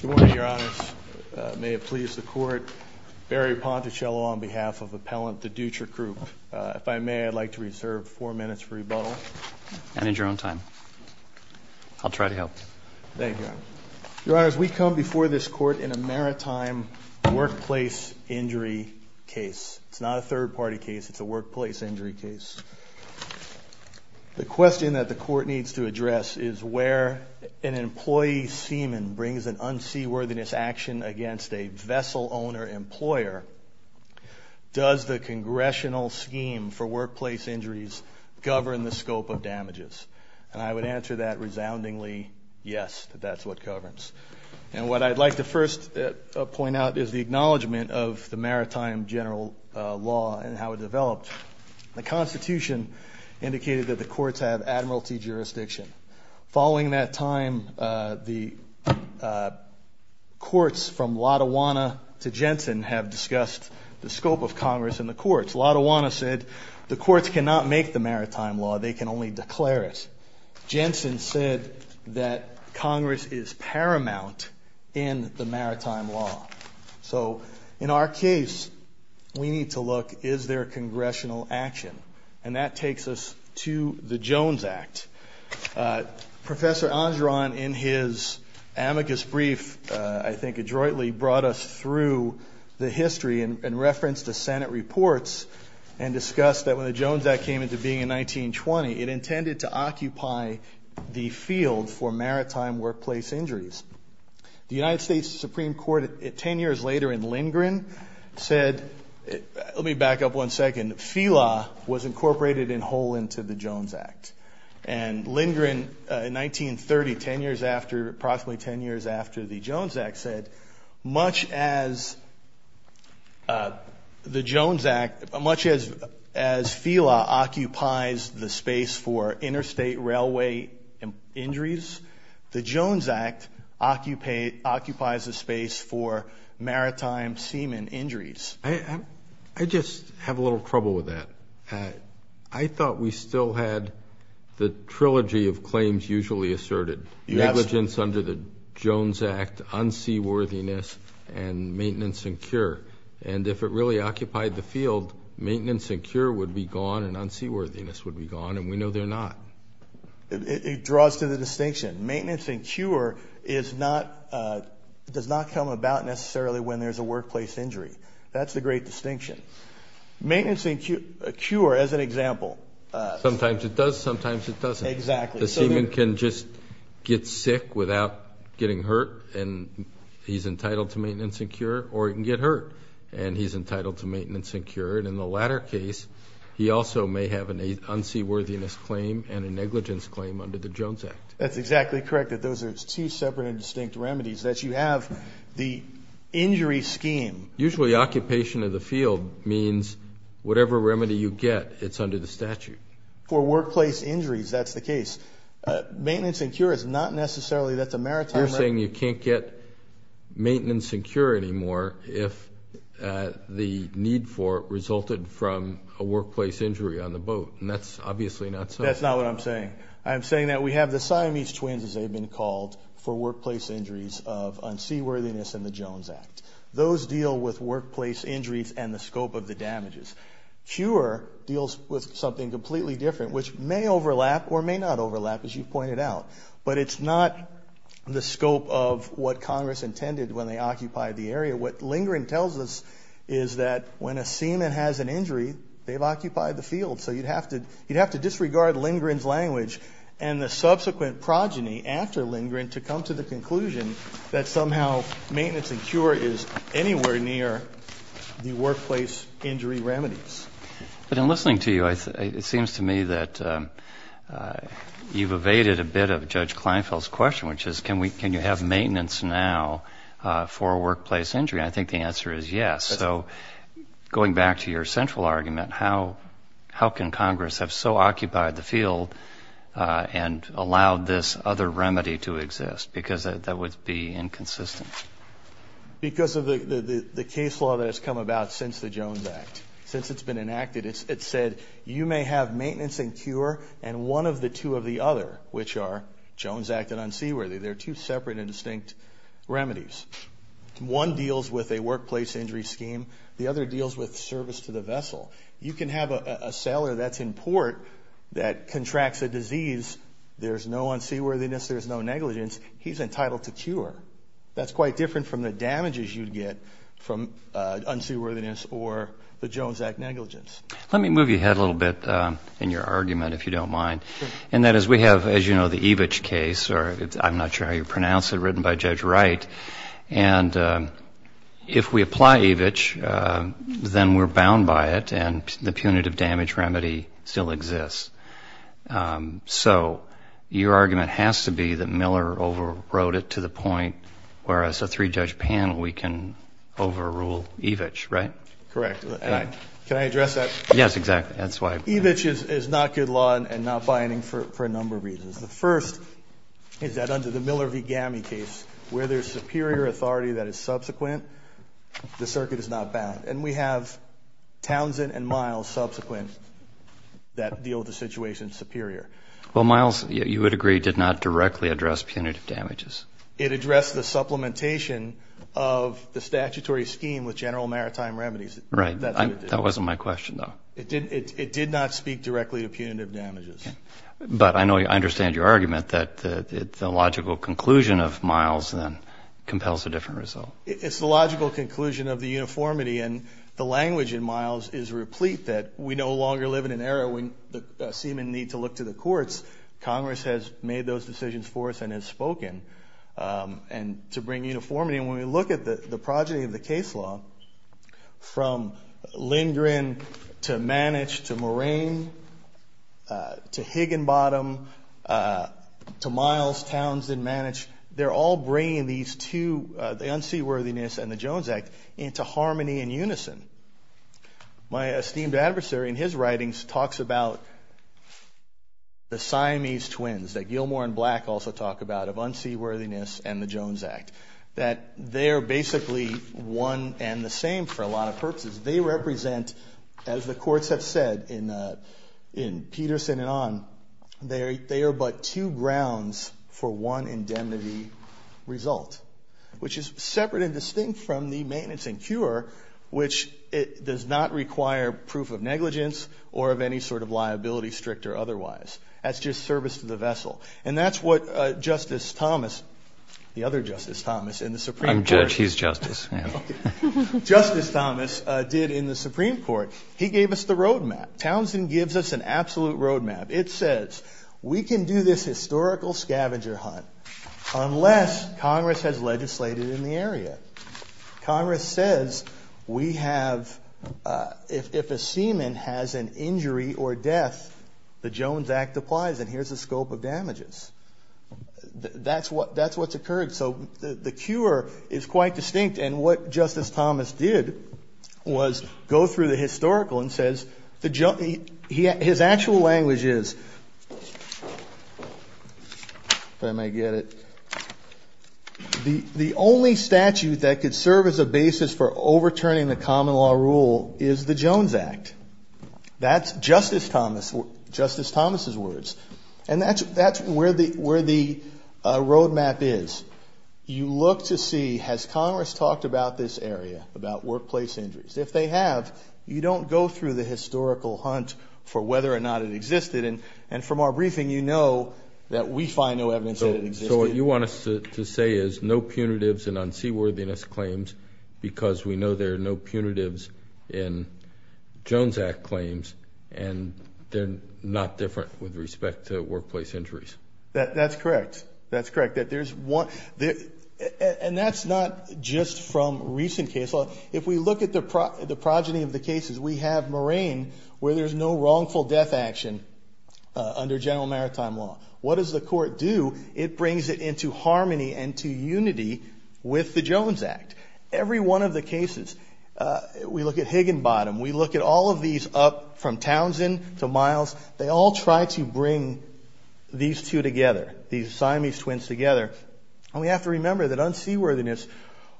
Good morning, Your Honors. May it please the Court, Barry Pontocello on behalf of Appellant to Dutra Group. If I may, I'd like to reserve four minutes for rebuttal. Manage your own time. I'll try to help. Thank you, Your Honors. Your Honors, we come before this Court in a maritime workplace injury case. It's not a third-party case. It's a workplace injury case. The question that the Court needs to address is, where an employee seaman brings an unseaworthiness action against a vessel-owner employer, does the congressional scheme for workplace injuries govern the scope of damages? And I would answer that resoundingly, yes, that that's what governs. And what I'd like to first point out is the acknowledgement of the Maritime General Law and how it developed. The Constitution indicated that the courts have admiralty jurisdiction. Following that time, the courts from Latawana to Jensen have discussed the scope of Congress in the courts. Latawana said the courts cannot make the Maritime Law, they can only declare it. Jensen said that Congress is paramount in the Maritime Law. So in our case, we need to look, is there congressional action? And that takes us to the Jones Act. Professor Angeron, in his amicus brief, I think adroitly brought us through the history in reference to Senate reports and discussed that when the Jones Act came into being in 1920, it intended to occupy the field for maritime workplace injuries. The United States Supreme Court 10 years later in Lindgren said, let me back up one second, FELA was incorporated in whole into the Jones Act. And Lindgren in 1930, 10 years after, approximately 10 years after the Jones Act said, much as the Jones Act, much as FELA occupies the space for interstate railway injuries, the Jones Act occupies the space for maritime seaman injuries. I just have a little trouble with that. I thought we still had the trilogy of claims usually asserted, negligence under the Jones Act, unseaworthiness, and maintenance and cure. And if it really occupied the field, maintenance and cure would be gone and unseaworthiness would be gone, and we know they're not. It draws to the distinction. Maintenance and cure does not come about necessarily when there's a workplace injury. That's the great distinction. Maintenance and cure, as an example. Sometimes it does, sometimes it doesn't. Exactly. The seaman can just get sick without getting hurt, and he's entitled to maintenance and cure, or he can get hurt, and he's entitled to maintenance and cure. And in the latter case, he also may have an unseaworthiness claim and a negligence claim under the Jones Act. That's exactly correct. Those are two separate and distinct remedies that you have. The injury scheme. Usually occupation of the field means whatever remedy you get, it's under the statute. For workplace injuries, that's the case. Maintenance and cure is not necessarily. You're saying you can't get maintenance and cure anymore if the need for it resulted from a workplace injury on the boat, and that's obviously not so. That's not what I'm saying. I'm saying that we have the Siamese twins, as they've been called, for workplace injuries of unseaworthiness in the Jones Act. Those deal with workplace injuries and the scope of the damages. Cure deals with something completely different, which may overlap or may not overlap, as you pointed out. But it's not the scope of what Congress intended when they occupied the area. What Lindgren tells us is that when a seaman has an injury, they've occupied the field. So you'd have to disregard Lindgren's language and the subsequent progeny after Lindgren to come to the conclusion that somehow maintenance and cure is anywhere near the workplace injury remedies. But in listening to you, it seems to me that you've evaded a bit of Judge Kleinfeld's question, which is can you have maintenance now for a workplace injury? I think the answer is yes. So going back to your central argument, how can Congress have so occupied the field and allowed this other remedy to exist? Because that would be inconsistent. Because of the case law that has come about since the Jones Act, since it's been enacted, it said you may have maintenance and cure and one of the two of the other, which are Jones Act and unseaworthy. They're two separate and distinct remedies. One deals with a workplace injury scheme. The other deals with service to the vessel. You can have a sailor that's in port that contracts a disease. There's no unseaworthiness. There's no negligence. He's entitled to cure. That's quite different from the damages you'd get from unseaworthiness or the Jones Act negligence. Let me move you ahead a little bit in your argument, if you don't mind. And that is we have, as you know, the Evich case, or I'm not sure how you pronounce it, written by Judge Wright. And if we apply Evich, then we're bound by it and the punitive damage remedy still exists. So your argument has to be that Miller overwrote it to the point where as a three-judge panel we can overrule Evich, right? Correct. Can I address that? Yes, exactly. That's why. Evich is not good law and not binding for a number of reasons. The first is that under the Miller v. Gammie case, where there's superior authority that is subsequent, the circuit is not bound. And we have Townsend and Miles subsequent that deal with the situation superior. Well, Miles, you would agree, did not directly address punitive damages. It addressed the supplementation of the statutory scheme with general maritime remedies. Right. That wasn't my question, though. It did not speak directly to punitive damages. But I know I understand your argument that the logical conclusion of Miles then compels a different result. It's the logical conclusion of the uniformity. And the language in Miles is replete that we no longer live in an era when the seamen need to look to the courts. Congress has made those decisions for us and has spoken to bring uniformity. And when we look at the progeny of the case law, from Lindgren to Manich to Moraine to Higginbottom to Miles, Townsend, Manich, they're all bringing these two, the unseaworthiness and the Jones Act, into harmony and unison. My esteemed adversary in his writings talks about the Siamese twins that Gilmore and Black also talk about, of unseaworthiness and the Jones Act, that they're basically one and the same for a lot of purposes. They represent, as the courts have said in Peterson and on, they are but two grounds for one indemnity result, which is separate and distinct from the maintenance and cure, which does not require proof of negligence or of any sort of liability, strict or otherwise. That's just service to the vessel. And that's what Justice Thomas, the other Justice Thomas in the Supreme Court. I'm Judge. He's Justice. Justice Thomas did in the Supreme Court. He gave us the road map. Townsend gives us an absolute road map. It says we can do this historical scavenger hunt unless Congress has legislated in the area. Congress says we have, if a seaman has an injury or death, the Jones Act applies, and here's the scope of damages. That's what's occurred. So the cure is quite distinct. And what Justice Thomas did was go through the historical and says his actual language is, if I may get it, the only statute that could serve as a basis for overturning the common law rule is the Jones Act. That's Justice Thomas's words. And that's where the road map is. You look to see has Congress talked about this area, about workplace injuries. If they have, you don't go through the historical hunt for whether or not it existed. And from our briefing, you know that we find no evidence that it existed. So what you want us to say is no punitives in unseaworthiness claims because we know there are no punitives in Jones Act claims, and they're not different with respect to workplace injuries. That's correct. That's correct. And that's not just from recent case law. If we look at the progeny of the cases, we have Moraine where there's no wrongful death action under general maritime law. What does the court do? It brings it into harmony and to unity with the Jones Act. Every one of the cases, we look at Higginbottom. We look at all of these up from Townsend to Miles. They all try to bring these two together, these Siamese twins together. And we have to remember that unseaworthiness,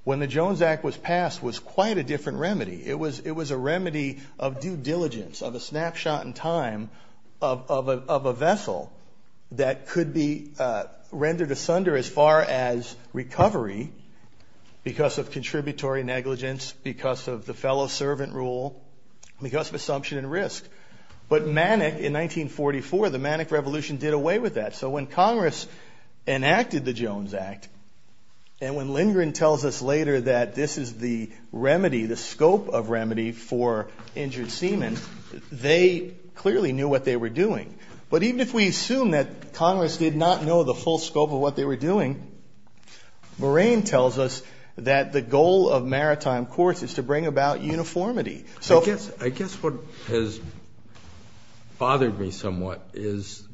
when the Jones Act was passed, was quite a different remedy. It was a remedy of due diligence, of a snapshot in time of a vessel that could be rendered asunder as far as recovery because of contributory negligence, because of the fellow servant rule, because of assumption and risk. But Manic, in 1944, the Manic Revolution did away with that. So when Congress enacted the Jones Act, and when Lindgren tells us later that this is the remedy, the scope of remedy for injured seamen, they clearly knew what they were doing. But even if we assume that Congress did not know the full scope of what they were doing, Moraine tells us that the goal of maritime courts is to bring about uniformity. I guess what has bothered me somewhat is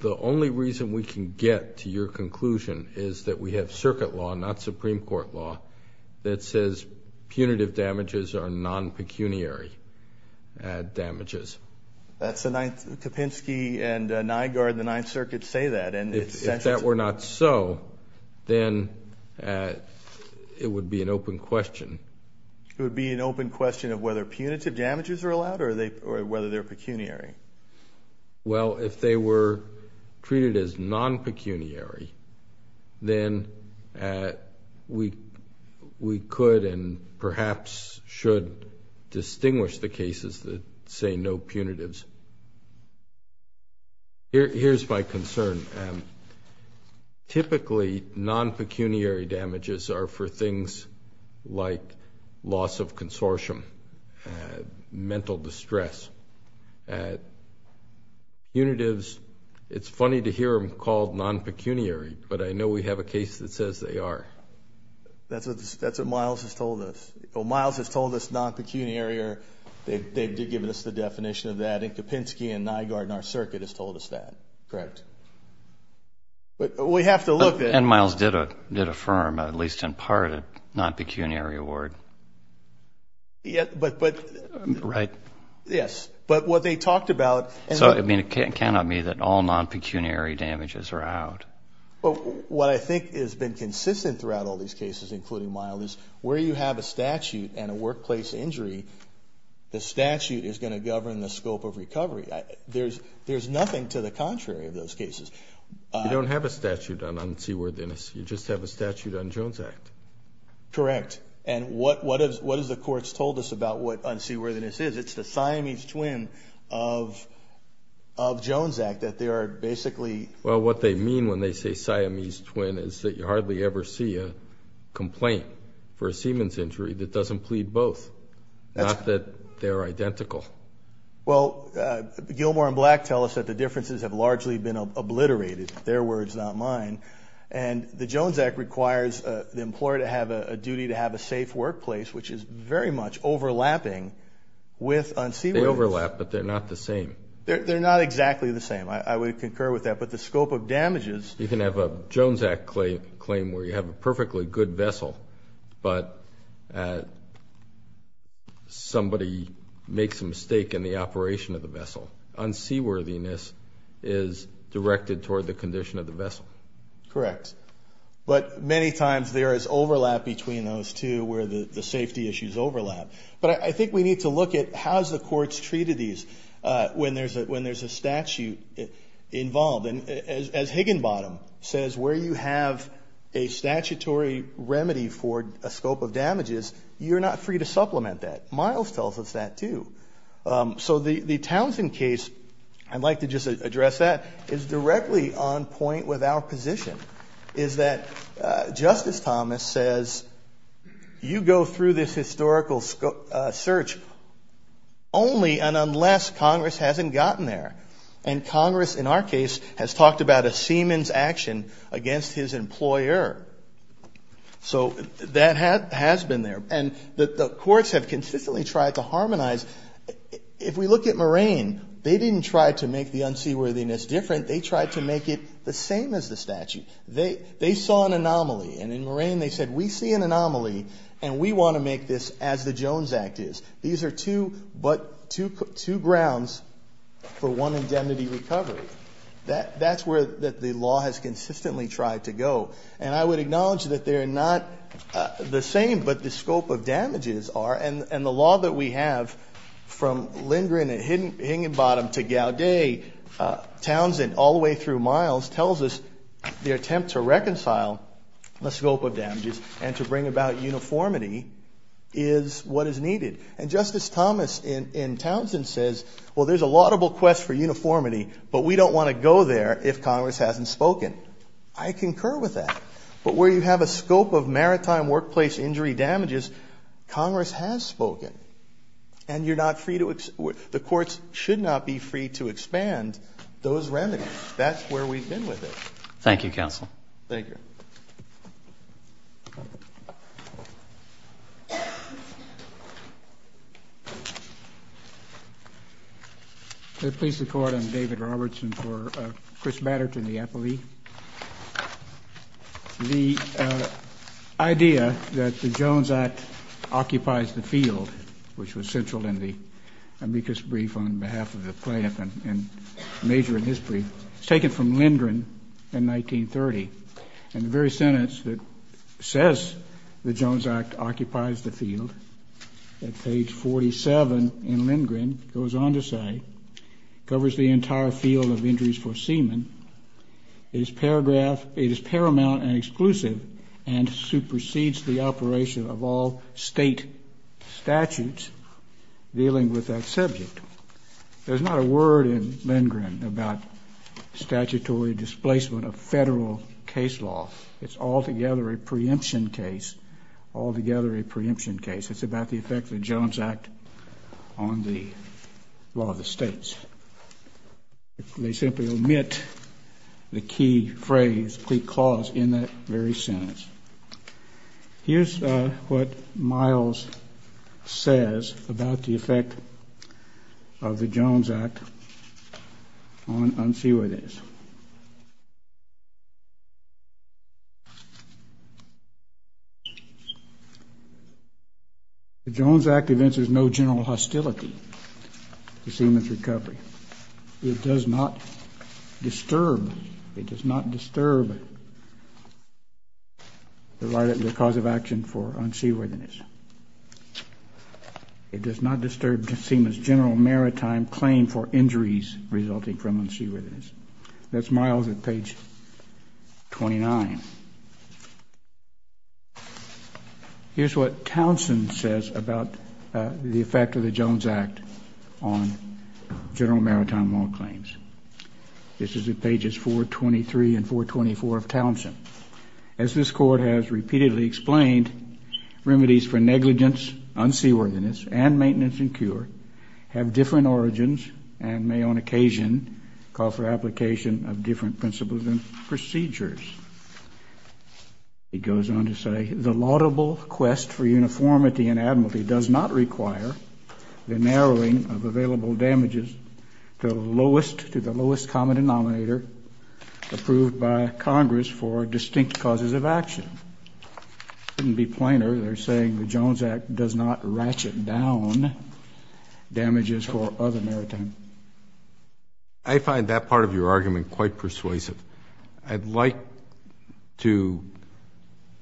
the only reason we can get to your conclusion is that we have circuit law, not Supreme Court law, that says punitive damages are non-pecuniary damages. That's the Ninth, Kopinski and Nygaard in the Ninth Circuit say that. If that were not so, then it would be an open question. It would be an open question of whether punitive damages are allowed or whether they're pecuniary. Well, if they were treated as non-pecuniary, then we could and perhaps should distinguish the cases that say no punitives. Here's my concern. Typically, non-pecuniary damages are for things like loss of consortium, mental distress. Punitives, it's funny to hear them called non-pecuniary, but I know we have a case that says they are. That's what Miles has told us. Miles has told us non-pecuniary. They've given us the definition of that, and Kopinski and Nygaard in our circuit has told us that. Correct. We have to look at it. And Miles did affirm, at least in part, a non-pecuniary award. Right. Yes. But what they talked about – So, I mean, it cannot be that all non-pecuniary damages are out. Well, what I think has been consistent throughout all these cases, including Miles, is where you have a statute and a workplace injury, the statute is going to govern the scope of recovery. There's nothing to the contrary of those cases. You don't have a statute on unseaworthiness. You just have a statute on Jones Act. Correct. And what have the courts told us about what unseaworthiness is? It's the Siamese twin of Jones Act, that they are basically – Well, what they mean when they say Siamese twin is that you hardly ever see a complaint for a Siemens injury that doesn't plead both, not that they're identical. Well, Gilmour and Black tell us that the differences have largely been obliterated, their words, not mine. And the Jones Act requires the employer to have a duty to have a safe workplace, which is very much overlapping with unseaworthiness. They overlap, but they're not the same. They're not exactly the same. I would concur with that. But the scope of damages – You can have a Jones Act claim where you have a perfectly good vessel, but somebody makes a mistake in the operation of the vessel. Unseaworthiness is directed toward the condition of the vessel. Correct. But many times there is overlap between those two where the safety issues overlap. But I think we need to look at how's the courts treated these when there's a statute involved. And as Higginbottom says, where you have a statutory remedy for a scope of damages, you're not free to supplement that. Miles tells us that too. So the Townsend case, I'd like to just address that, is directly on point with our position, is that Justice Thomas says you go through this historical search only and unless Congress hasn't gotten there. And Congress, in our case, has talked about a seaman's action against his employer. So that has been there. And the courts have consistently tried to harmonize. If we look at Moraine, they didn't try to make the unseaworthiness different. They tried to make it the same as the statute. They saw an anomaly. And in Moraine they said we see an anomaly and we want to make this as the Jones Act is. These are two grounds for one indemnity recovery. That's where the law has consistently tried to go. And I would acknowledge that they're not the same, but the scope of damages are. And the law that we have from Lindgren and Higginbottom to Gaudet, Townsend all the way through Miles, tells us the attempt to reconcile the scope of damages and to bring about uniformity is what is needed. And Justice Thomas in Townsend says, well, there's a laudable quest for uniformity, but we don't want to go there if Congress hasn't spoken. I concur with that. But where you have a scope of maritime workplace injury damages, Congress has spoken. And the courts should not be free to expand those remedies. That's where we've been with it. Thank you, Counsel. Thank you. Thank you. May it please the Court, I'm David Robertson for Chris Batterton, the appellee. The idea that the Jones Act occupies the field, which was central in the amicus brief on behalf of the plaintiff and major in history, was taken from Lindgren in 1930. And the very sentence that says the Jones Act occupies the field, at page 47 in Lindgren, goes on to say, covers the entire field of injuries for seamen. It is paramount and exclusive and supersedes the operation of all state statutes dealing with that subject. There's not a word in Lindgren about statutory displacement of federal case law. It's altogether a preemption case, altogether a preemption case. It's about the effect of the Jones Act on the law of the states. They simply omit the key phrase, plea clause, in that very sentence. Here's what Miles says about the effect of the Jones Act on seaway days. The Jones Act evinces no general hostility to seamen's recovery. It does not disturb, it does not disturb the cause of action for unseaworthiness. It does not disturb the seamen's general maritime claim for injuries resulting from unseaworthiness. That's Miles at page 29. Here's what Townsend says about the effect of the Jones Act on general maritime law claims. This is at pages 423 and 424 of Townsend. As this Court has repeatedly explained, remedies for negligence, unseaworthiness, and maintenance and cure have different origins and may on occasion call for application of different principles and procedures. He goes on to say, the laudable quest for uniformity and admiralty does not require the narrowing of available damages to the lowest common denominator approved by Congress for distinct causes of action. It couldn't be plainer. They're saying the Jones Act does not ratchet down damages for other maritime. I find that part of your argument quite persuasive. I'd like to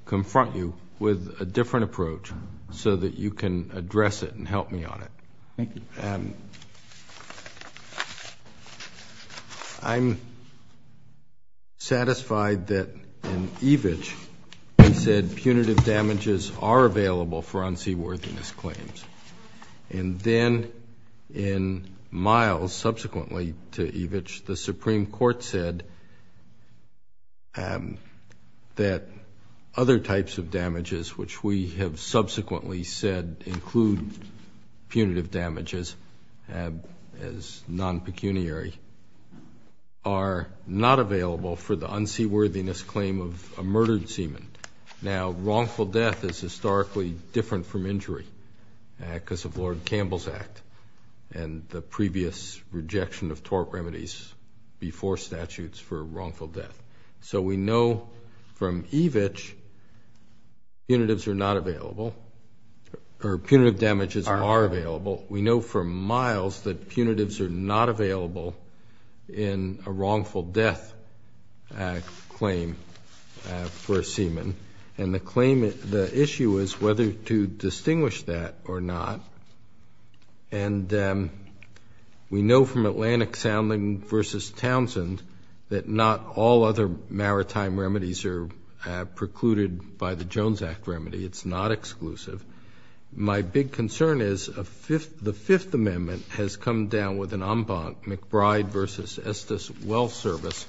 confront you with a different approach so that you can address it and help me on it. Thank you. I'm satisfied that in Evitch they said punitive damages are available for unseaworthiness claims. And then in Miles, subsequently to Evitch, the Supreme Court said that other types of damages, which we have subsequently said include punitive damages as non-pecuniary, are not available for the unseaworthiness claim of a murdered seaman. Now, wrongful death is historically different from injury because of Lord Campbell's Act and the previous rejection of tort remedies before statutes for wrongful death. So we know from Evitch punitive damages are available. We know from Miles that punitives are not available in a wrongful death claim for a seaman. And the issue is whether to distinguish that or not. And we know from Atlantic Sounding v. Townsend that not all other maritime remedies are precluded by the Jones Act remedy. It's not exclusive. My big concern is the Fifth Amendment has come down with an en banc, McBride v. Estes Wealth Service,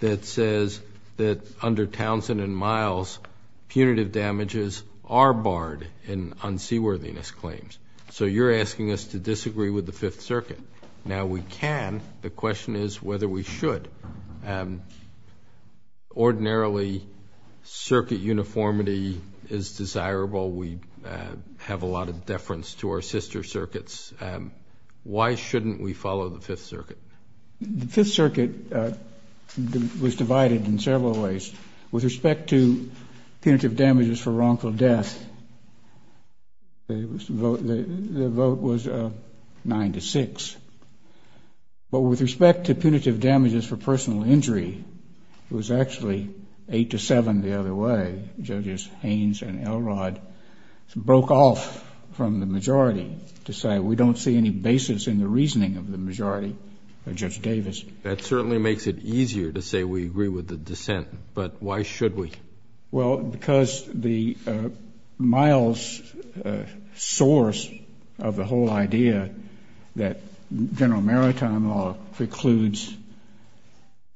that says that under Townsend and Miles punitive damages are barred in unseaworthiness claims. So you're asking us to disagree with the Fifth Circuit. Now, we can. The question is whether we should. Ordinarily, circuit uniformity is desirable. We have a lot of deference to our sister circuits. Why shouldn't we follow the Fifth Circuit? The Fifth Circuit was divided in several ways. With respect to punitive damages for wrongful death, the vote was 9 to 6. But with respect to punitive damages for personal injury, it was actually 8 to 7 the other way. Judges Haynes and Elrod broke off from the majority to say we don't see any basis in the reasoning of the majority by Judge Davis. That certainly makes it easier to say we agree with the dissent. But why should we? Well, because the Miles source of the whole idea that general maritime law precludes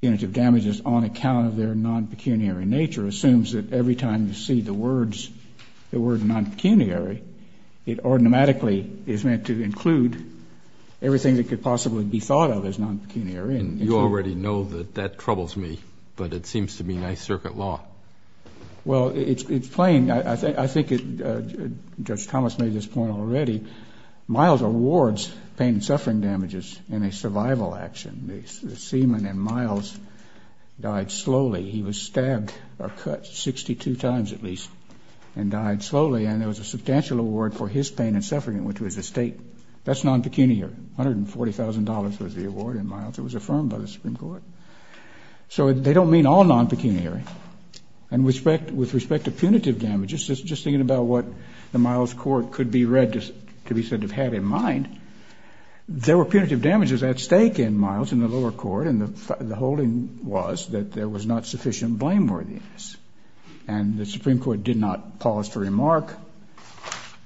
punitive damages on account of their non-pecuniary nature assumes that every time you see the word non-pecuniary, it automatically is meant to include everything that could possibly be thought of as non-pecuniary. And you already know that that troubles me, but it seems to be nice circuit law. Well, it's plain. I think Judge Thomas made this point already. Miles awards pain and suffering damages in a survival action. The seaman in Miles died slowly. He was stabbed or cut 62 times at least and died slowly. And there was a substantial award for his pain and suffering, which was a state. That's non-pecuniary. $140,000 was the award in Miles. It was affirmed by the Supreme Court. So they don't mean all non-pecuniary. And with respect to punitive damages, just thinking about what the Miles court could be read to be said to have had in mind, there were punitive damages at stake in Miles in the lower court, and the holding was that there was not sufficient blameworthiness. And the Supreme Court did not pause to remark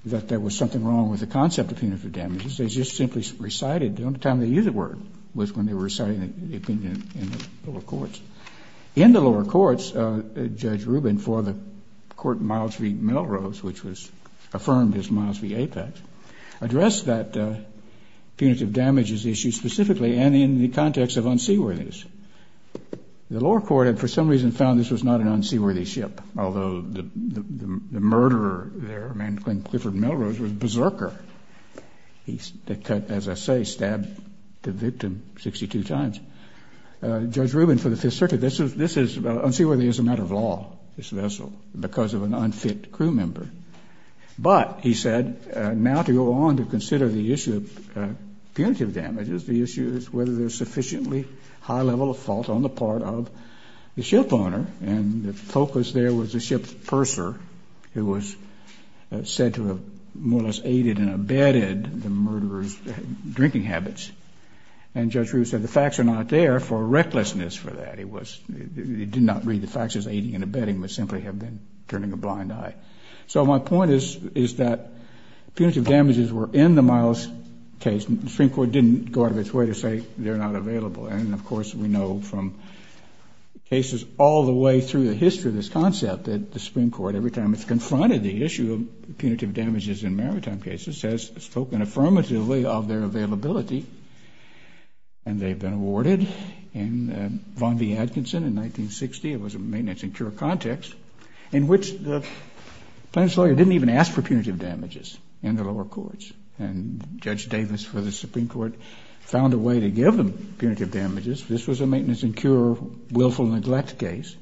that there was something wrong with the concept of punitive damages. They just simply recited. The only time they used the word was when they were reciting the opinion in the lower courts. In the lower courts, Judge Rubin, for the court Miles v. Melrose, which was affirmed as Miles v. Apex, addressed that punitive damages issue specifically and in the context of unseaworthiness. The lower court had for some reason found this was not an unseaworthy ship, although the murderer there, a man named Clifford Melrose, was a berserker. He, as I say, stabbed the victim 62 times. Judge Rubin, for the Fifth Circuit, this is unseaworthy as a matter of law, this vessel, because of an unfit crew member. But, he said, now to go on to consider the issue of punitive damages, the issue is whether there's sufficiently high level of fault on the part of the shipowner. And the focus there was the ship's berser, who was said to have more or less aided and abetted the murderer's drinking habits. And Judge Rubin said the facts are not there for recklessness for that. He did not read the facts as aiding and abetting, but simply have been turning a blind eye. So my point is that punitive damages were in the Miles case. The Supreme Court didn't go out of its way to say they're not available. And, of course, we know from cases all the way through the history of this concept that the Supreme Court, every time it's confronted the issue of punitive damages in maritime cases, has spoken affirmatively of their availability. And they've been awarded in Von D. Atkinson in 1960, it was a maintenance and cure context, in which the plaintiff's lawyer didn't even ask for punitive damages in the lower courts. And Judge Davis, for the Supreme Court, found a way to give them punitive damages. This was a maintenance and cure willful neglect case.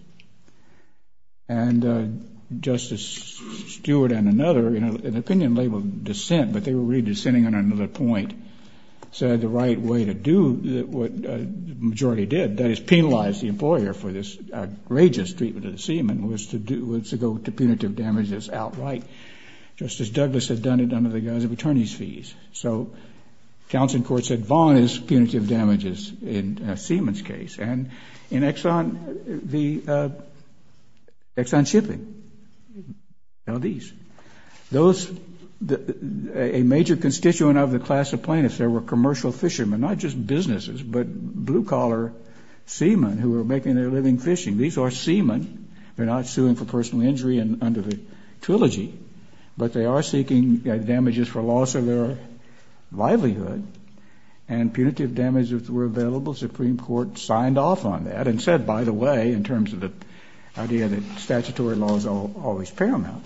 And Justice Stewart and another, in an opinion labeled dissent, but they were really dissenting on another point, said the right way to do what the majority did, that is penalize the employer for this outrageous treatment of the seaman, was to go to punitive damages outright. Justice Douglas had done it under the guise of attorney's fees. So counsel in court said Von is punitive damages in a seaman's case. And in Exxon, the Exxon Shipping, L.D.'s, those, a major constituent of the class of plaintiffs there, were commercial fishermen, not just businesses, but blue-collar seamen who were making their living fishing. These are seamen. They're not suing for personal injury under the trilogy, but they are seeking damages for loss of their livelihood. And punitive damages were available. The Supreme Court signed off on that and said, by the way, in terms of the idea that statutory law is always paramount,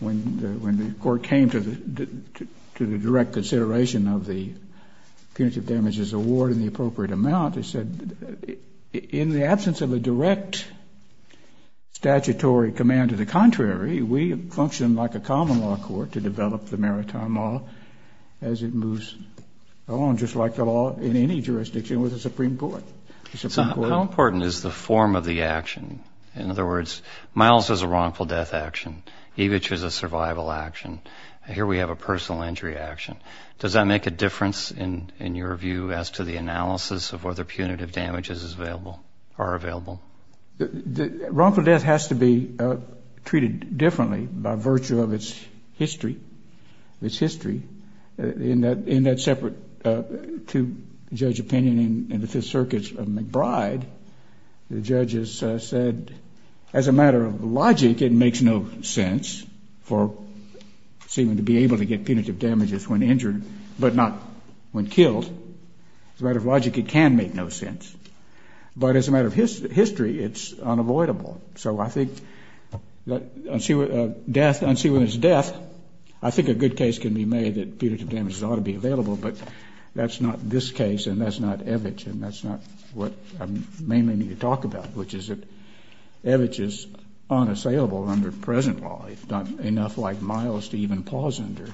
when the court came to the direct consideration of the punitive damages award and the appropriate amount, they said, in the absence of a direct statutory command to the contrary, we function like a common law court to develop the maritime law as it moves along, just like the law in any jurisdiction with the Supreme Court. So how important is the form of the action? In other words, Miles has a wrongful death action. Evitch has a survival action. Here we have a personal injury action. Does that make a difference in your view as to the analysis of whether punitive damages are available? The wrongful death has to be treated differently by virtue of its history. In that separate two-judge opinion in the Fifth Circuit's McBride, the judges said, as a matter of logic, it makes no sense for a seaman to be able to get punitive damages when injured but not when killed. As a matter of logic, it can make no sense. But as a matter of history, it's unavoidable. So I think that death, unseawomen's death, I think a good case can be made that punitive damages ought to be available, but that's not this case and that's not Evitch and that's not what I mainly need to talk about, which is that Evitch is unassailable under present law. He's not enough like Miles to even pause under.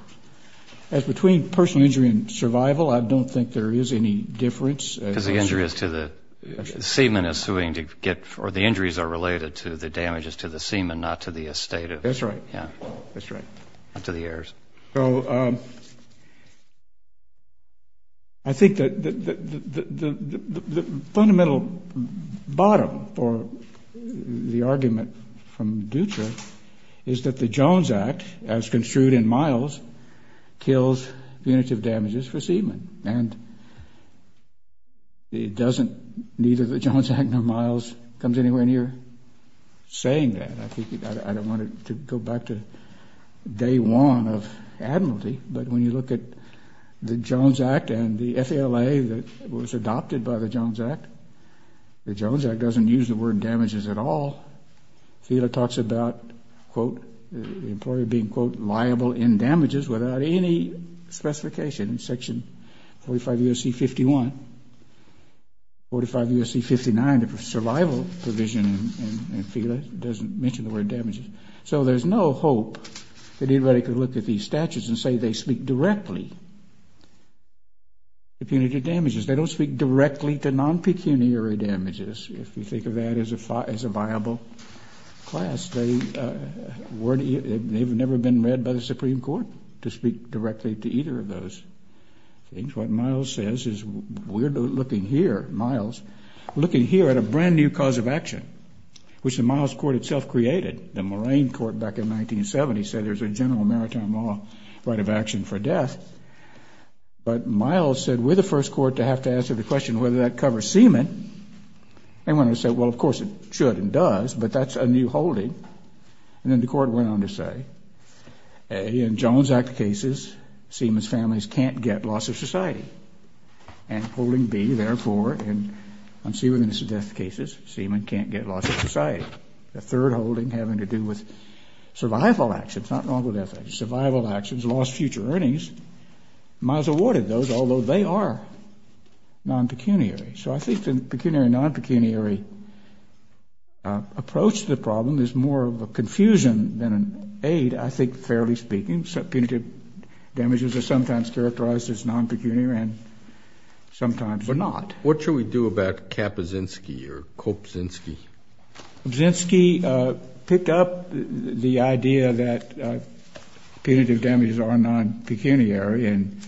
As between personal injury and survival, I don't think there is any difference. Because the injury is to the seaman assuming to get or the injuries are related to the damages to the seaman, not to the estate. That's right. That's right. Not to the heirs. So I think that the fundamental bottom for the argument from Dutra is that the Jones Act, as construed in Miles, kills punitive damages for seamen. And it doesn't, neither the Jones Act nor Miles comes anywhere near saying that. I don't want to go back to day one of admiralty, but when you look at the Jones Act and the FALA that was adopted by the Jones Act, the Jones Act doesn't use the word damages at all. FELA talks about, quote, the employer being, quote, liable in damages without any specification in section 45 U.S.C. 51. 45 U.S.C. 59, the survival provision in FELA doesn't mention the word damages. So there's no hope that anybody could look at these statutes and say they speak directly to punitive damages. They don't speak directly to non-pecuniary damages, if you think of that as a viable class. They've never been read by the Supreme Court to speak directly to either of those things. What Miles says is we're looking here, Miles, looking here at a brand-new cause of action, which the Miles Court itself created. The Moraine Court back in 1970 said there's a general maritime law right of action for death. But Miles said we're the first court to have to answer the question whether that covers seamen. They wanted to say, well, of course it should and does, but that's a new holding. And then the court went on to say, A, in Jones Act cases, seamen's families can't get loss of society. And holding B, therefore, in unseemly cases, seamen can't get loss of society. The third holding having to do with survival actions. Not wrong with that. Survival actions, lost future earnings. Miles awarded those, although they are non-pecuniary. So I think the pecuniary, non-pecuniary approach to the problem is more of a confusion than an aid, I think, fairly speaking. Punitive damages are sometimes characterized as non-pecuniary and sometimes not. What should we do about Kappa Zinsky or Cope Zinsky? Zinsky picked up the idea that punitive damages are non-pecuniary and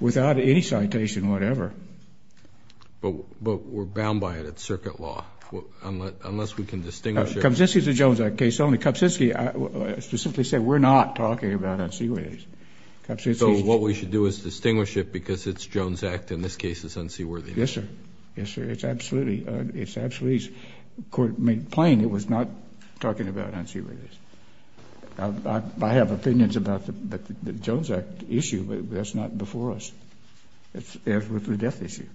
without any citation whatever. But we're bound by it. It's circuit law. Unless we can distinguish it. Kappa Zinsky is a Jones Act case only. Kappa Zinsky, to simply say, we're not talking about unseaworthiness. So what we should do is distinguish it because it's Jones Act and this case is unseaworthy. Yes, sir. Yes, sir. It's absolutely. The court made plain it was not talking about unseaworthiness. I have opinions about the Jones Act issue, but that's not before us. It's with the death issue.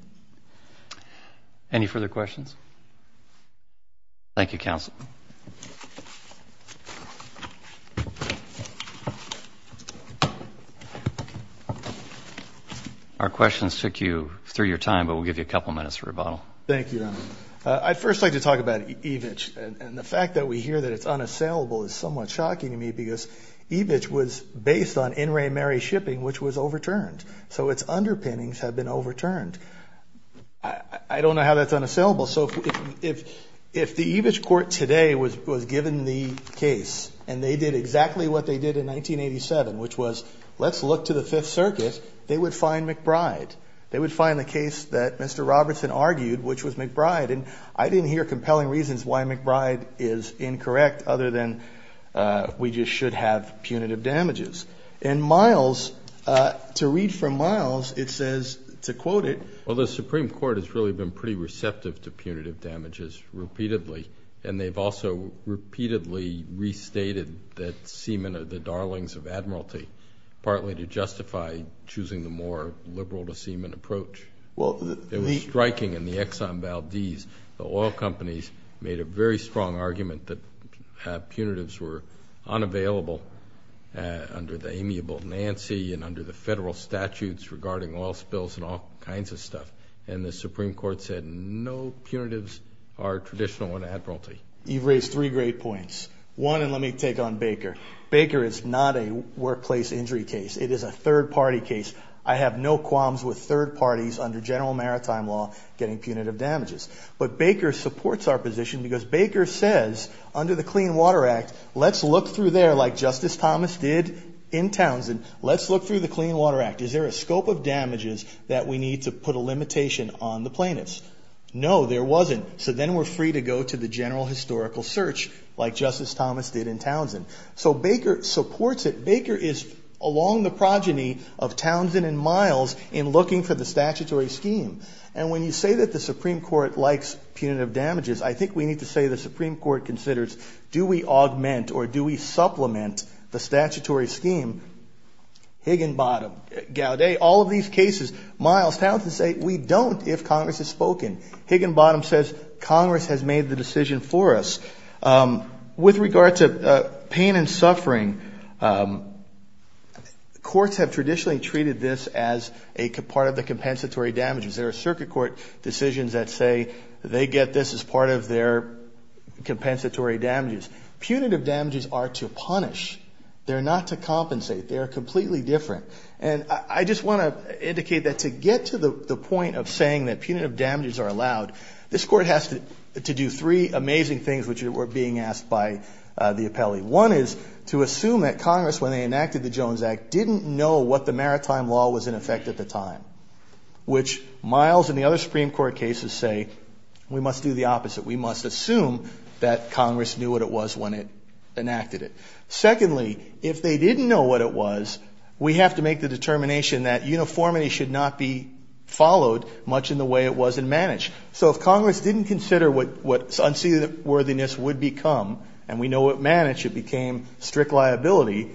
Any further questions? Thank you, counsel. Our questions took you through your time, but we'll give you a couple minutes for rebuttal. Thank you, Your Honor. I'd first like to talk about EVICH, and the fact that we hear that it's unassailable is somewhat shocking to me because EVICH was based on in re meri shipping, which was overturned. So its underpinnings have been overturned. I don't know how that's unassailable. So if the EVICH court today was given the case and they did exactly what they did in 1987, which was let's look to the Fifth Circuit, they would find McBride. They would find the case that Mr. Robertson argued, which was McBride. And I didn't hear compelling reasons why McBride is incorrect other than we just should have punitive damages. And Miles, to read from Miles, it says, to quote it. Well, the Supreme Court has really been pretty receptive to punitive damages repeatedly, and they've also repeatedly restated that semen are the darlings of admiralty, partly to justify choosing the more liberal to semen approach. It was striking in the Exxon Valdez. The oil companies made a very strong argument that punitives were unavailable under the amiable Nancy and under the federal statutes regarding oil spills and all kinds of stuff. And the Supreme Court said no, punitives are traditional in admiralty. You've raised three great points. One, and let me take on Baker. Baker is not a workplace injury case. It is a third-party case. I have no qualms with third parties under general maritime law getting punitive damages. But Baker supports our position because Baker says under the Clean Water Act, let's look through there like Justice Thomas did in Townsend. Let's look through the Clean Water Act. Is there a scope of damages that we need to put a limitation on the plaintiffs? No, there wasn't. So then we're free to go to the general historical search like Justice Thomas did in Townsend. So Baker supports it. Baker is along the progeny of Townsend and Miles in looking for the statutory scheme. And when you say that the Supreme Court likes punitive damages, I think we need to say the Supreme Court considers do we augment or do we supplement the statutory scheme? Higginbottom, Gaudet, all of these cases, Miles, Townsend say we don't if Congress has spoken. Higginbottom says Congress has made the decision for us. With regard to pain and suffering, courts have traditionally treated this as a part of the compensatory damages. There are circuit court decisions that say they get this as part of their compensatory damages. Punitive damages are to punish. They're not to compensate. They are completely different. And I just want to indicate that to get to the point of saying that punitive damages are allowed, this court has to do three amazing things which were being asked by the appellee. One is to assume that Congress, when they enacted the Jones Act, didn't know what the maritime law was in effect at the time, which Miles and the other Supreme Court cases say we must do the opposite. We must assume that Congress knew what it was when it enacted it. Secondly, if they didn't know what it was, we have to make the determination that uniformity should not be followed much in the way it was in managed. So if Congress didn't consider what unseated worthiness would become, and we know what managed, it became strict liability,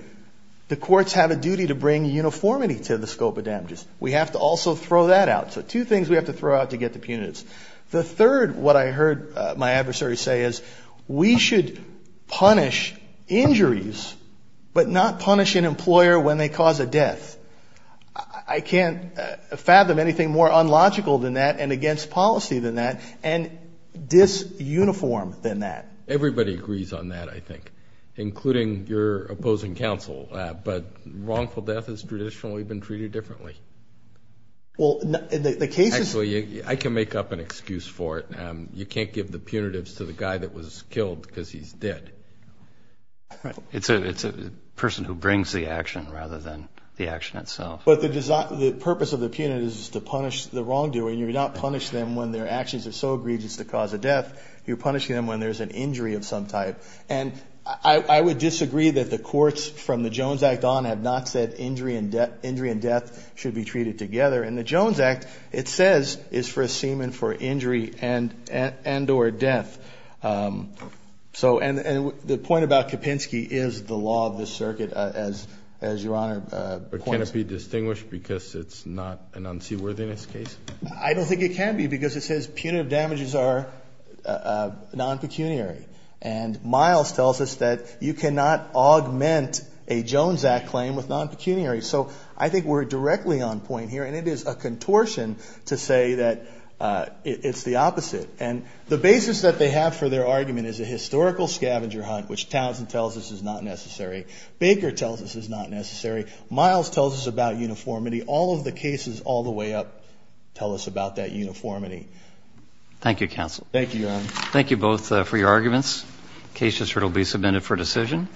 the courts have a duty to bring uniformity to the scope of damages. We have to also throw that out. So two things we have to throw out to get to punitive. The third, what I heard my adversary say, is we should punish injuries, but not punish an employer when they cause a death. I can't fathom anything more unlogical than that and against policy than that and dis-uniform than that. Everybody agrees on that, I think, including your opposing counsel, but wrongful death has traditionally been treated differently. Well, the case is – Actually, I can make up an excuse for it. You can't give the punitives to the guy that was killed because he's dead. Right. It's a person who brings the action rather than the action itself. But the purpose of the punitive is to punish the wrongdoing. You do not punish them when their actions are so egregious to cause a death. You're punishing them when there's an injury of some type. And I would disagree that the courts from the Jones Act on have not said injury and death should be treated together. And the Jones Act, it says, is for a semen for injury and or death. So – and the point about Kopinski is the law of this circuit, as Your Honor points. But can it be distinguished because it's not an unseaworthiness case? I don't think it can be because it says punitive damages are non-pecuniary. And Miles tells us that you cannot augment a Jones Act claim with non-pecuniary. So I think we're directly on point here, and it is a contortion to say that it's the opposite. And the basis that they have for their argument is a historical scavenger hunt, which Townsend tells us is not necessary. Baker tells us is not necessary. Miles tells us about uniformity. All of the cases all the way up tell us about that uniformity. Thank you, counsel. Thank you, Your Honor. Thank you both for your arguments. The case has now been submitted for decision.